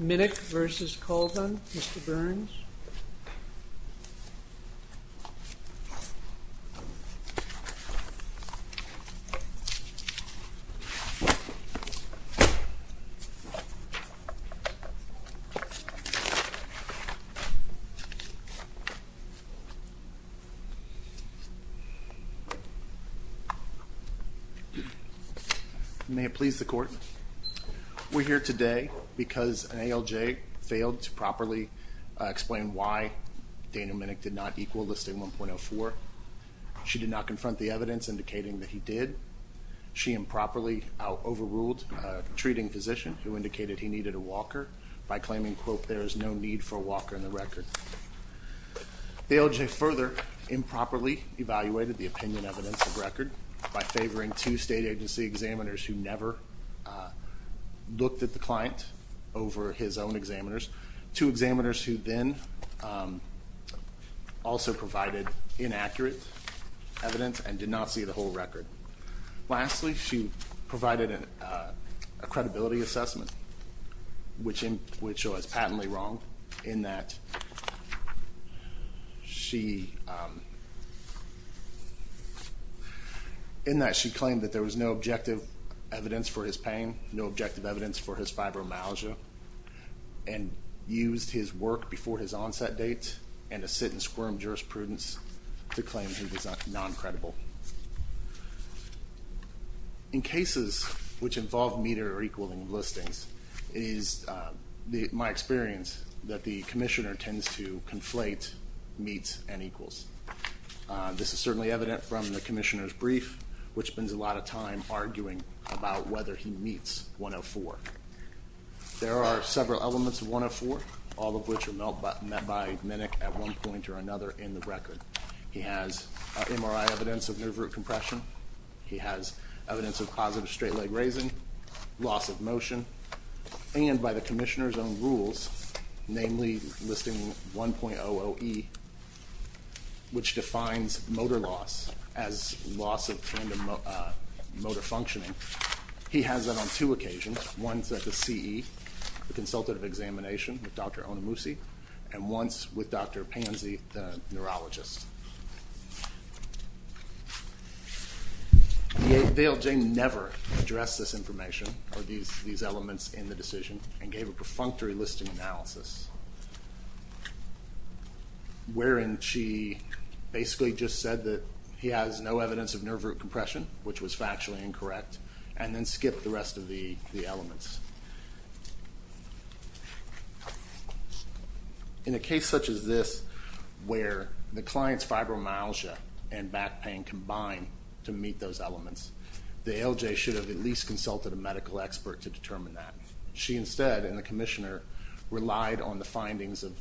Minnick v. Colvin, Mr. Burns May it please the court, we're here today because an ALJ failed to properly explain why Dana Minnick did not equal List A 1.04. She did not confront the evidence indicating that he did. She improperly overruled a treating physician who indicated he needed a walker by claiming, quote, there is no need for a walker in the record. The ALJ further improperly evaluated the opinion evidence of record by favoring two state agency examiners who never looked at the client over his own examiners. Two examiners who then also provided inaccurate evidence and did not see the whole record. Lastly, she provided a credibility assessment, which was patently wrong in that she claimed that there was no objective evidence for his pain, no objective evidence for his fibromyalgia, and used his work before his onset date and a sit and squirm jurisprudence to claim he was non-credible. In cases which involve meter or equaling of listings, it is my experience that the commissioner tends to conflate meets and equals. This is certainly evident from the commissioner's brief, which spends a lot of time arguing about whether he meets 1.04. There are several elements of 1.04, all of which are met by Minnick at one point or another in the record. He has MRI evidence of nerve root compression. He has evidence of positive straight leg raising, loss of motion, and by the commissioner's own rules, namely listing 1.00E, which defines motor loss as loss of tandem motor functioning. He has that on two occasions, once at the CE, the consultative examination with Dr. Onomushi, and once with Dr. Pansy, the neurologist. The ALJ never addressed this information or these elements in the decision and gave a perfunctory listing analysis, wherein she basically just said that he has no evidence of nerve root compression, which was factually incorrect, and then skipped the rest of the elements. In a case such as this, where the client's fibromyalgia and back pain combine to meet those elements, the ALJ should have at least consulted a medical expert to determine that. She instead, and the commissioner, relied on the findings of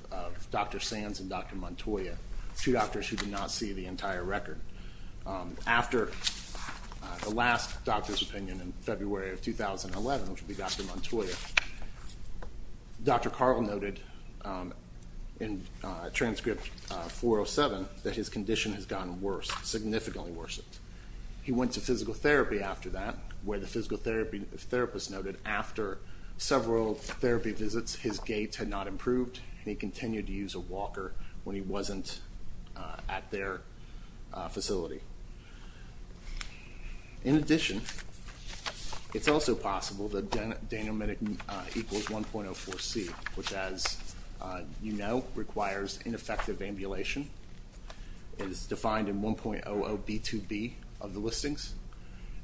Dr. Sands and Dr. Montoya, two doctors who did not see the entire record. After the last doctor's opinion in February of 2011, which would be Dr. Montoya, Dr. Carl noted in transcript 407 that his condition has gotten worse, significantly worse. He went to physical therapy after that, where the physical therapist noted after several therapy visits, his gait had not improved, and he continued to use a walker when he wasn't at their facility. In addition, it's also possible that denominic equals 1.04C, which as you know, requires ineffective ambulation, is defined in 1.00B2B of the listings,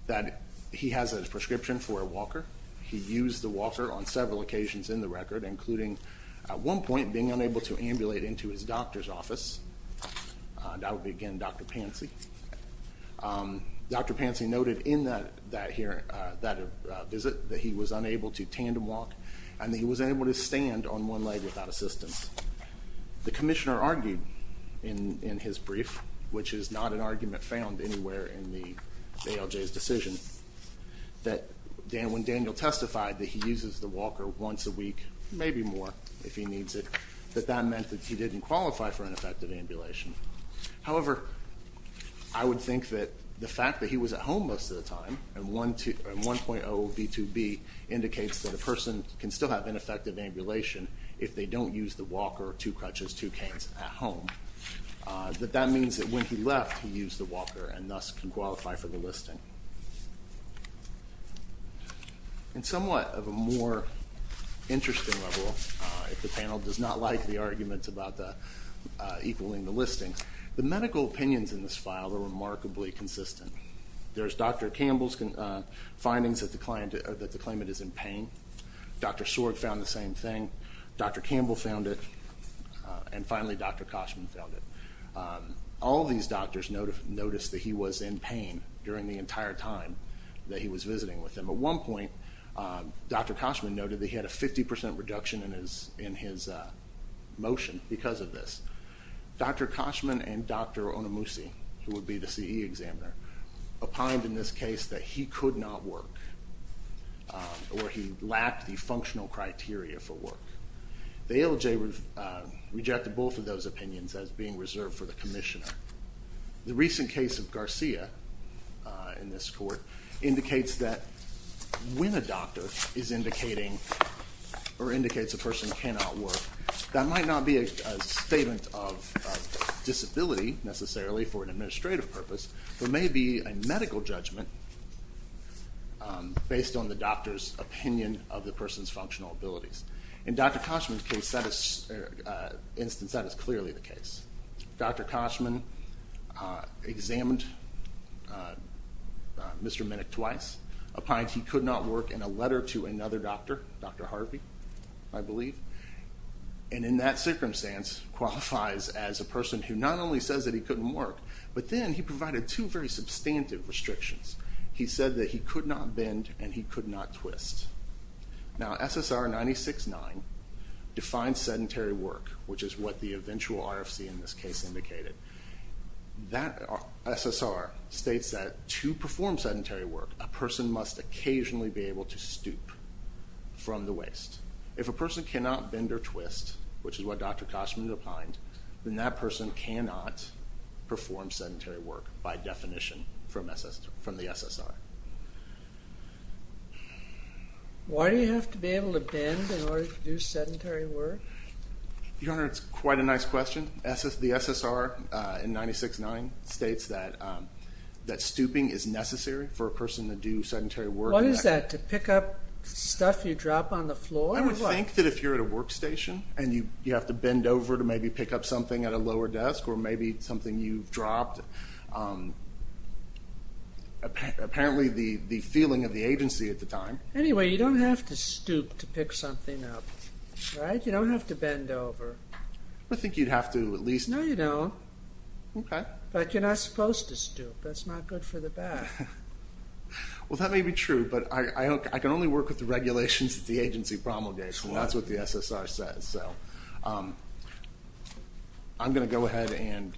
that he has a prescription for a walker. He used the walker on several occasions in the record, including at one point being unable to ambulate into his doctor's office, that would be again Dr. Pansy, Dr. Pansy noted in that visit that he was unable to tandem walk, and that he was unable to stand on one leg without assistance. The commissioner argued in his brief, which is not an argument found anywhere in the ALJ's decision, that when Daniel testified that he uses the walker once a week, maybe more if he needs it, that that meant that he didn't qualify for ineffective ambulation. However, I would think that the fact that he was at home most of the time, and 1.00B2B indicates that a person can still have ineffective ambulation if they don't use the walker or two crutches, two canes at home, that that means that when he left, he used the walker and thus can qualify for the listing. And somewhat of a more interesting level, if the panel does not like the arguments about the equaling the listing, the medical opinions in this file are remarkably consistent. There's Dr. Campbell's findings that the claimant is in pain, Dr. Sorg found the same thing, Dr. Campbell found it, and finally Dr. Koshman found it. All of these doctors noticed that he was in pain during the entire time that he was visiting with them. At one point, Dr. Koshman noted that he had a 50% reduction in his motion because of this. Dr. Koshman and Dr. Onamusi, who would be the CE examiner, opined in this case that he could not work, or he lacked the functional criteria for work. The ALJ rejected both of those opinions as being reserved for the commissioner. The recent case of Garcia in this court indicates that when a doctor is indicating or indicates a person cannot work, that might not be a statement of disability necessarily for an administrative purpose, but may be a medical judgment based on the doctor's opinion of the person's functional abilities. In Dr. Koshman's instance, that is clearly the case. Dr. Koshman examined Mr. Minnick twice, opined he could not work, and a letter to another doctor, Dr. Harvey, I believe, and in that circumstance qualifies as a person who not only says that he couldn't work, but then he provided two very substantive restrictions. He said that he could not bend and he could not twist. Now, SSR 96-9 defines sedentary work, which is what the eventual RFC in this case indicated. That SSR states that to perform sedentary work, a person must occasionally be able to stoop from the waist. If a person cannot bend or twist, which is what Dr. Koshman opined, then that person cannot perform sedentary work by definition from the SSR. Why do you have to be able to bend in order to do sedentary work? Your Honor, it's quite a nice question. The SSR in 96-9 states that stooping is necessary for a person to do sedentary work. What is that? To pick up stuff you drop on the floor? I would think that if you're at a workstation and you have to bend over to maybe pick up something at a lower desk or maybe something you've dropped, apparently the feeling of the agency at the time. Anyway, you don't have to stoop to pick something up, right? You don't have to bend over. I think you'd have to at least... No, you don't. Okay. But you're not supposed to stoop. That's not good for the back. Well, that may be true, but I can only work with the regulations that the agency promulgates, and that's what the SSR says. I'm going to go ahead and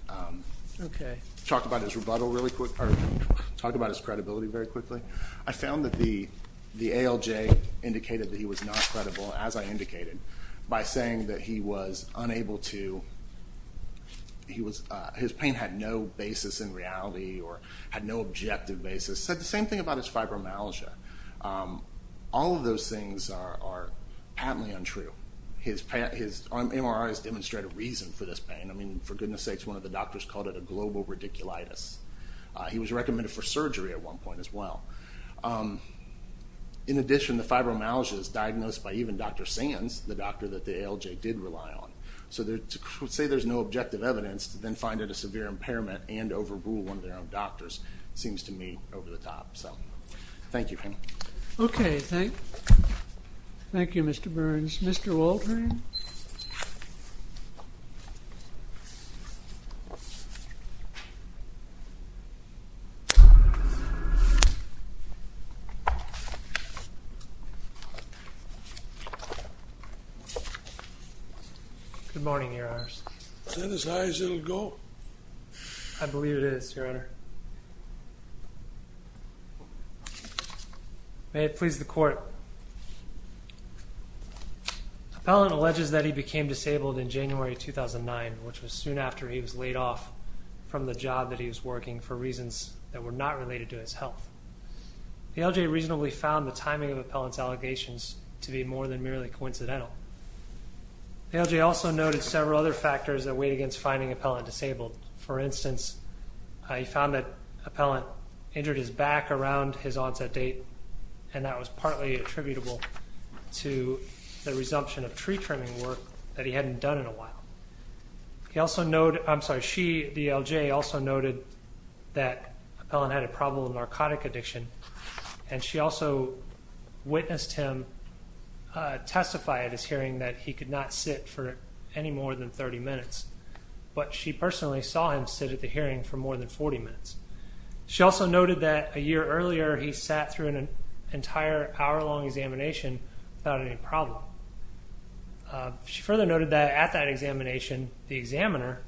talk about his rebuttal really quick, or talk about his credibility very quickly. I found that the ALJ indicated that he was not credible, as I indicated, by saying that he was unable to... His pain had no basis in reality, or had no objective basis, said the same thing about his fibromyalgia. All of those things are aptly untrue. His MRI has demonstrated reason for this pain. I mean, for goodness sakes, one of the doctors called it a global radiculitis. He was recommended for surgery at one point as well. In addition, the fibromyalgia is diagnosed by even Dr. Sands, the doctor that the ALJ did rely on. So to say there's no objective evidence, then find it a severe impairment and overrule one of their own doctors seems to me over the top. So thank you. Okay. Thank you, Mr. Burns. Mr. Waldron? Good morning, Your Honors. Is that as high as it'll go? I believe it is, Your Honor. May it please the Court. The appellant alleges that he became disabled in January 2009, which was soon after he was laid off from the job that he was working for reasons that were not related to his health. The ALJ reasonably found the timing of the appellant's allegations to be more than merely coincidental. The ALJ also noted several other factors that weighed against finding the appellant disabled. For instance, he found that the appellant injured his back around his onset date, and that was partly attributable to the resumption of tree trimming work that he hadn't done in a while. The ALJ also noted that the appellant had a problem with narcotic addiction, and she also witnessed him testify at his hearing that he could not sit for any more than 30 minutes, but she personally saw him sit at the hearing for more than 40 minutes. She also noted that a year earlier he sat through an entire hour-long examination without any problem. She further noted that at that examination, the examiner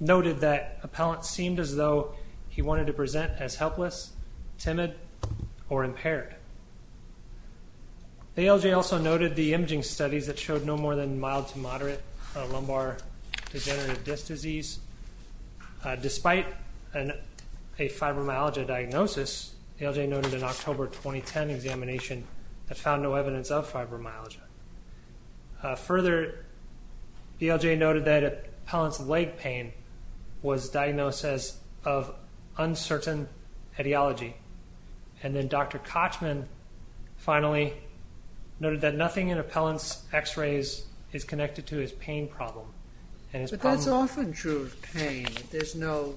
noted that appellant seemed as though he wanted to present as helpless, timid, or impaired. The ALJ also noted the imaging studies that showed no more than mild to moderate lumbar degenerative disc disease. Despite a fibromyalgia diagnosis, the ALJ noted an October 2010 examination that found no evidence of fibromyalgia. Further, the ALJ noted that appellant's leg pain was diagnosed as of uncertain ideology, and then Dr. Kochman finally noted that nothing in appellant's x-rays is connected to his pain problem. But that's often true of pain. There's no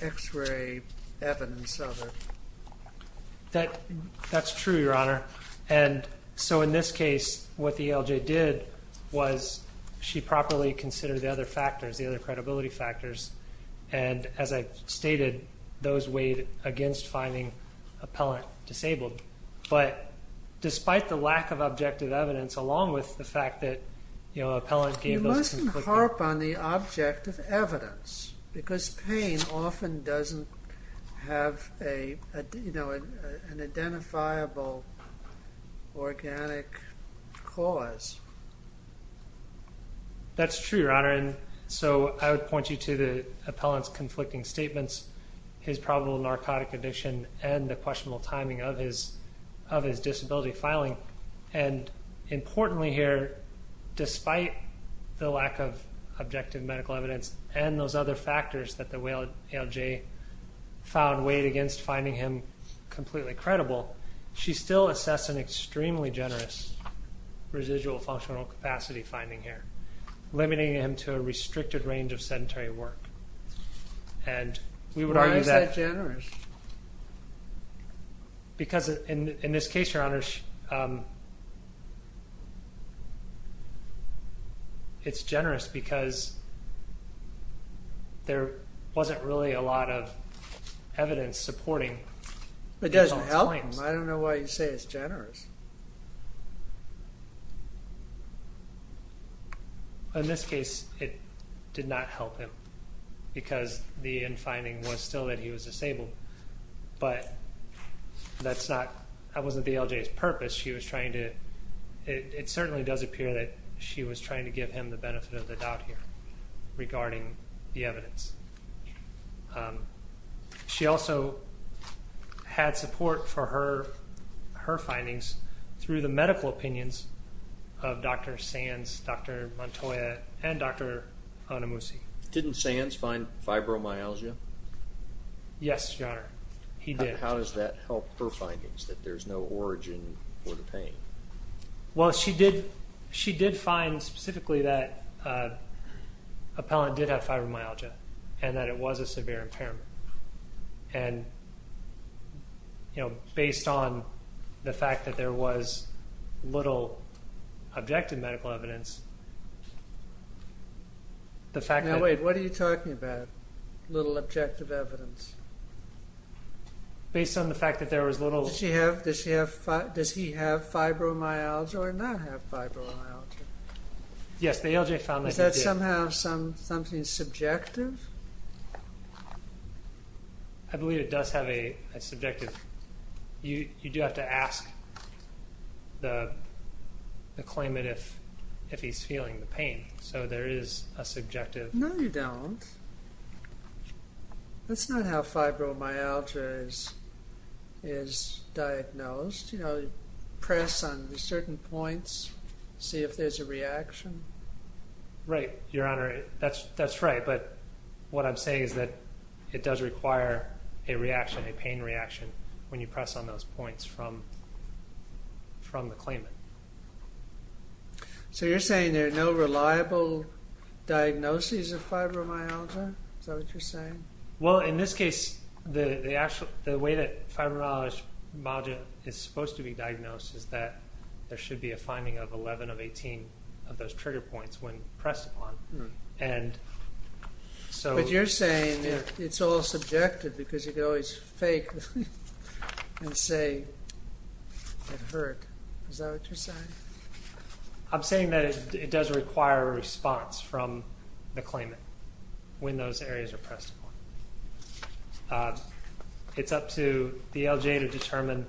x-ray evidence of it. That's true, Your Honor. And so in this case, what the ALJ did was she properly considered the other factors, the other credibility factors. And as I've stated, those weighed against finding appellant disabled. But despite the lack of objective evidence, along with the fact that appellant gave those It doesn't harp on the objective evidence. Because pain often doesn't have an identifiable organic cause. That's true, Your Honor. So I would point you to the appellant's conflicting statements, his probable narcotic addiction, and the questionable timing of his disability filing. And importantly here, despite the lack of objective medical evidence and those other factors that the ALJ found weighed against finding him completely credible, she still assessed an extremely generous residual functional capacity finding here, limiting him to a restricted range of sedentary work. Why is that generous? Because, in this case, Your Honor, it's generous because there wasn't really a lot of evidence supporting... It doesn't help him. I don't know why you say it's generous. In this case, it did not help him because the end finding was still that he was disabled. But that wasn't the ALJ's purpose. It certainly does appear that she was trying to give him the benefit of the doubt here regarding the evidence. She also had support for her findings through the medical opinions of Dr. Sands, Dr. Montoya, and Dr. Onamusi. Didn't Sands find fibromyalgia? Yes, Your Honor. He did. How does that help her findings, that there's no origin for the pain? Well, she did find specifically that Appellant did have fibromyalgia and that it was a severe impairment. And, you know, based on the fact that there was little objective medical evidence, Now, wait, what are you talking about, little objective evidence? Based on the fact that there was little... Does he have fibromyalgia or not have fibromyalgia? Yes, the ALJ found that he did. Is that somehow something subjective? I believe it does have a subjective... You do have to ask the claimant if he's feeling the pain. So there is a subjective... No, you don't. That's not how fibromyalgia is diagnosed. You press on certain points, see if there's a reaction. Right, Your Honor. That's right. But what I'm saying is that it does require a reaction, a pain reaction, when you press on those points from the claimant. So you're saying there are no reliable diagnoses of fibromyalgia? Is that what you're saying? Well, in this case, the way that fibromyalgia is supposed to be diagnosed is that there should be a finding of 11 of 18 of those trigger points when pressed upon. But you're saying it's all subjective because you can always fake and say it hurt. Is that what you're saying? I'm saying that it does require a response from the claimant when those areas are pressed upon. It's up to the ALJ to determine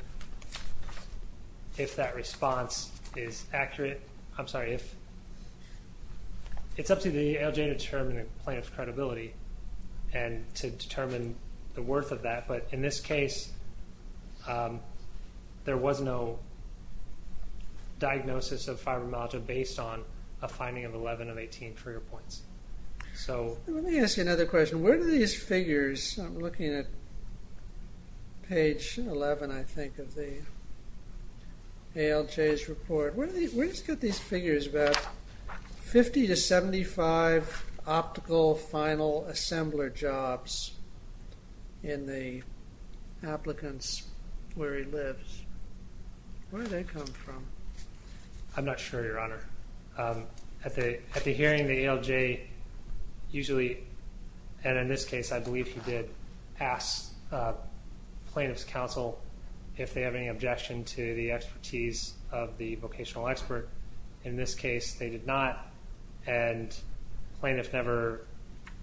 if that response is accurate. I'm sorry. It's up to the ALJ to determine the plaintiff's credibility and to determine the worth of that. But in this case, there was no diagnosis of fibromyalgia based on a finding of 11 of 18 trigger points. Let me ask you another question. Where do these figures... I'm looking at page 11, I think, of the ALJ's report. Where do you get these figures about 50 to 75 optical final assembler jobs in the applicants where he lives? Where do they come from? I'm not sure, Your Honor. At the hearing, the ALJ usually... And in this case, I believe he did ask plaintiff's counsel if they have any objection to the expertise of the vocational expert. In this case, they did not. And plaintiff never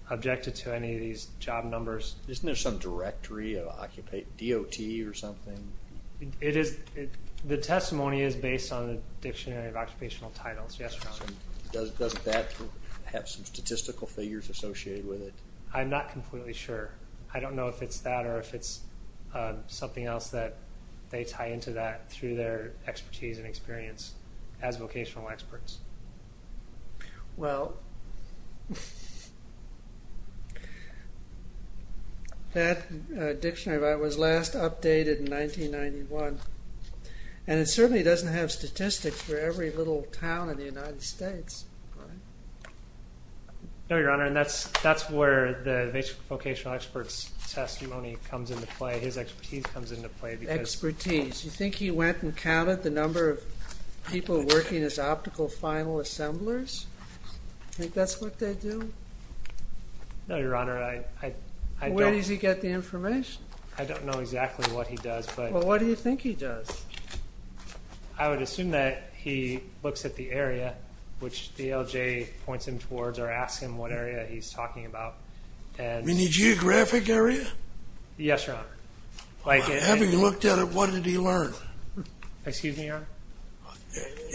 objected to any of these job numbers. Isn't there some directory of DOT or something? The testimony is based on the Dictionary of Occupational Titles, yes, Your Honor. Doesn't that have some statistical figures associated with it? I'm not completely sure. I don't know if it's that or if it's something else that they tie into that through their expertise and experience as vocational experts. Well... That dictionary was last updated in 1991. And it certainly doesn't have statistics for every little town in the United States. No, Your Honor. And that's where the vocational expert's testimony comes into play. His expertise comes into play. Expertise. You think he went and counted the number of people working as optical final assemblers? You think that's what they do? No, Your Honor. Where does he get the information? I don't know exactly what he does. Well, what do you think he does? I would assume that he looks at the area, which DLJ points him towards, or asks him what area he's talking about. You mean the geographic area? Yes, Your Honor. Having looked at it, what did he learn? Excuse me, Your Honor?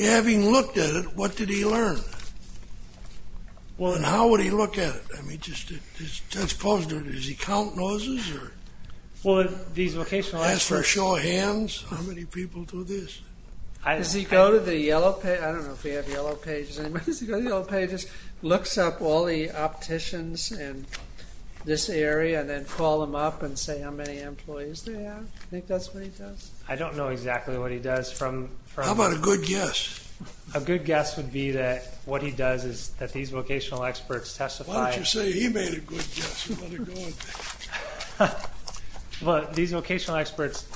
Having looked at it, what did he learn? And how would he look at it? I mean, does he count noses? Well, these vocational experts... As for show of hands, how many people do this? Does he go to the Yellow Pages? I don't know if we have Yellow Pages. Does he go to the Yellow Pages, looks up all the opticians in this area, and then call them up and say how many employees they have? Do you think that's what he does? I don't know exactly what he does. How about a good guess? A good guess would be that what he does is that these vocational experts testify... Why don't you say he made a good guess? Well, these vocational experts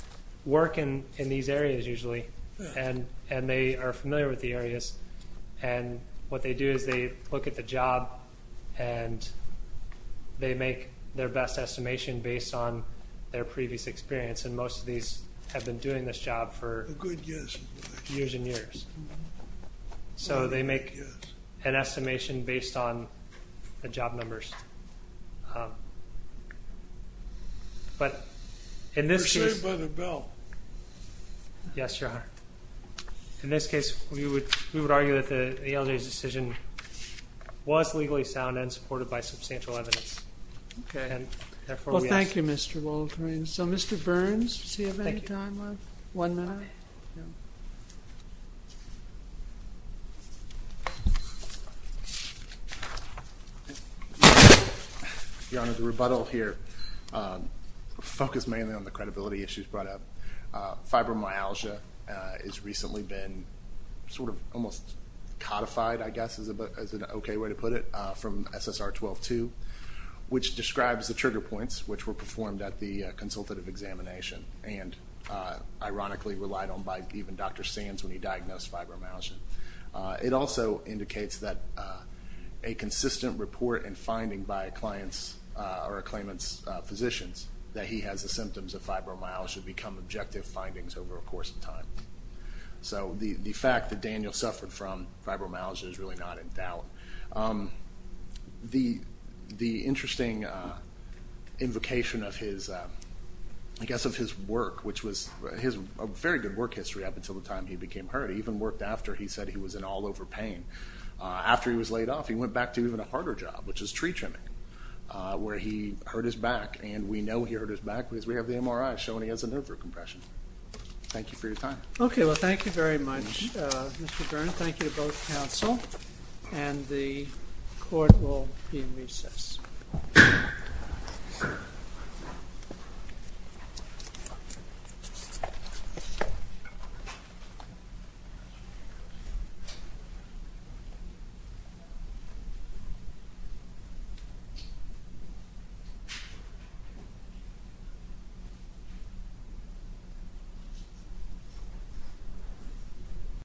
work in these areas usually, and they are familiar with the areas, and what they do is they look at the job and they make their best estimation based on their previous experience, and most of these have been doing this job for years and years. So they make an estimation based on the job numbers. But in this case... You're saved by the bill. Yes, Your Honor. In this case, we would argue that the Yellow Pages decision was legally sound and supported by substantial evidence. Okay. Well, thank you, Mr. Waldron. So Mr. Burns, does he have any time left? Thank you. One minute? Yeah. Thank you. Your Honor, the rebuttal here focused mainly on the credibility issues brought up. Fibromyalgia has recently been sort of almost codified, I guess, is an okay way to put it, from SSR 12-2, which describes the trigger points which were performed at the consultative examination and ironically relied on by even Dr. Sands when he diagnosed fibromyalgia. It also indicates that a consistent report and finding by a client's or a claimant's physicians that he has the symptoms of fibromyalgia become objective findings over a course of time. So the fact that Daniel suffered from fibromyalgia is really not in doubt. The interesting invocation of his, I guess, of his work, which was a very good work history up until the time he became hurt. He even worked after he said he was in all-over pain. After he was laid off, he went back to even a harder job, which is tree trimming, where he hurt his back, and we know he hurt his back because we have the MRI showing he has a nerve root compression. Thank you for your time. Okay. Well, thank you very much, Mr. Burns. Thank you to both counsel, and the court will be in recess.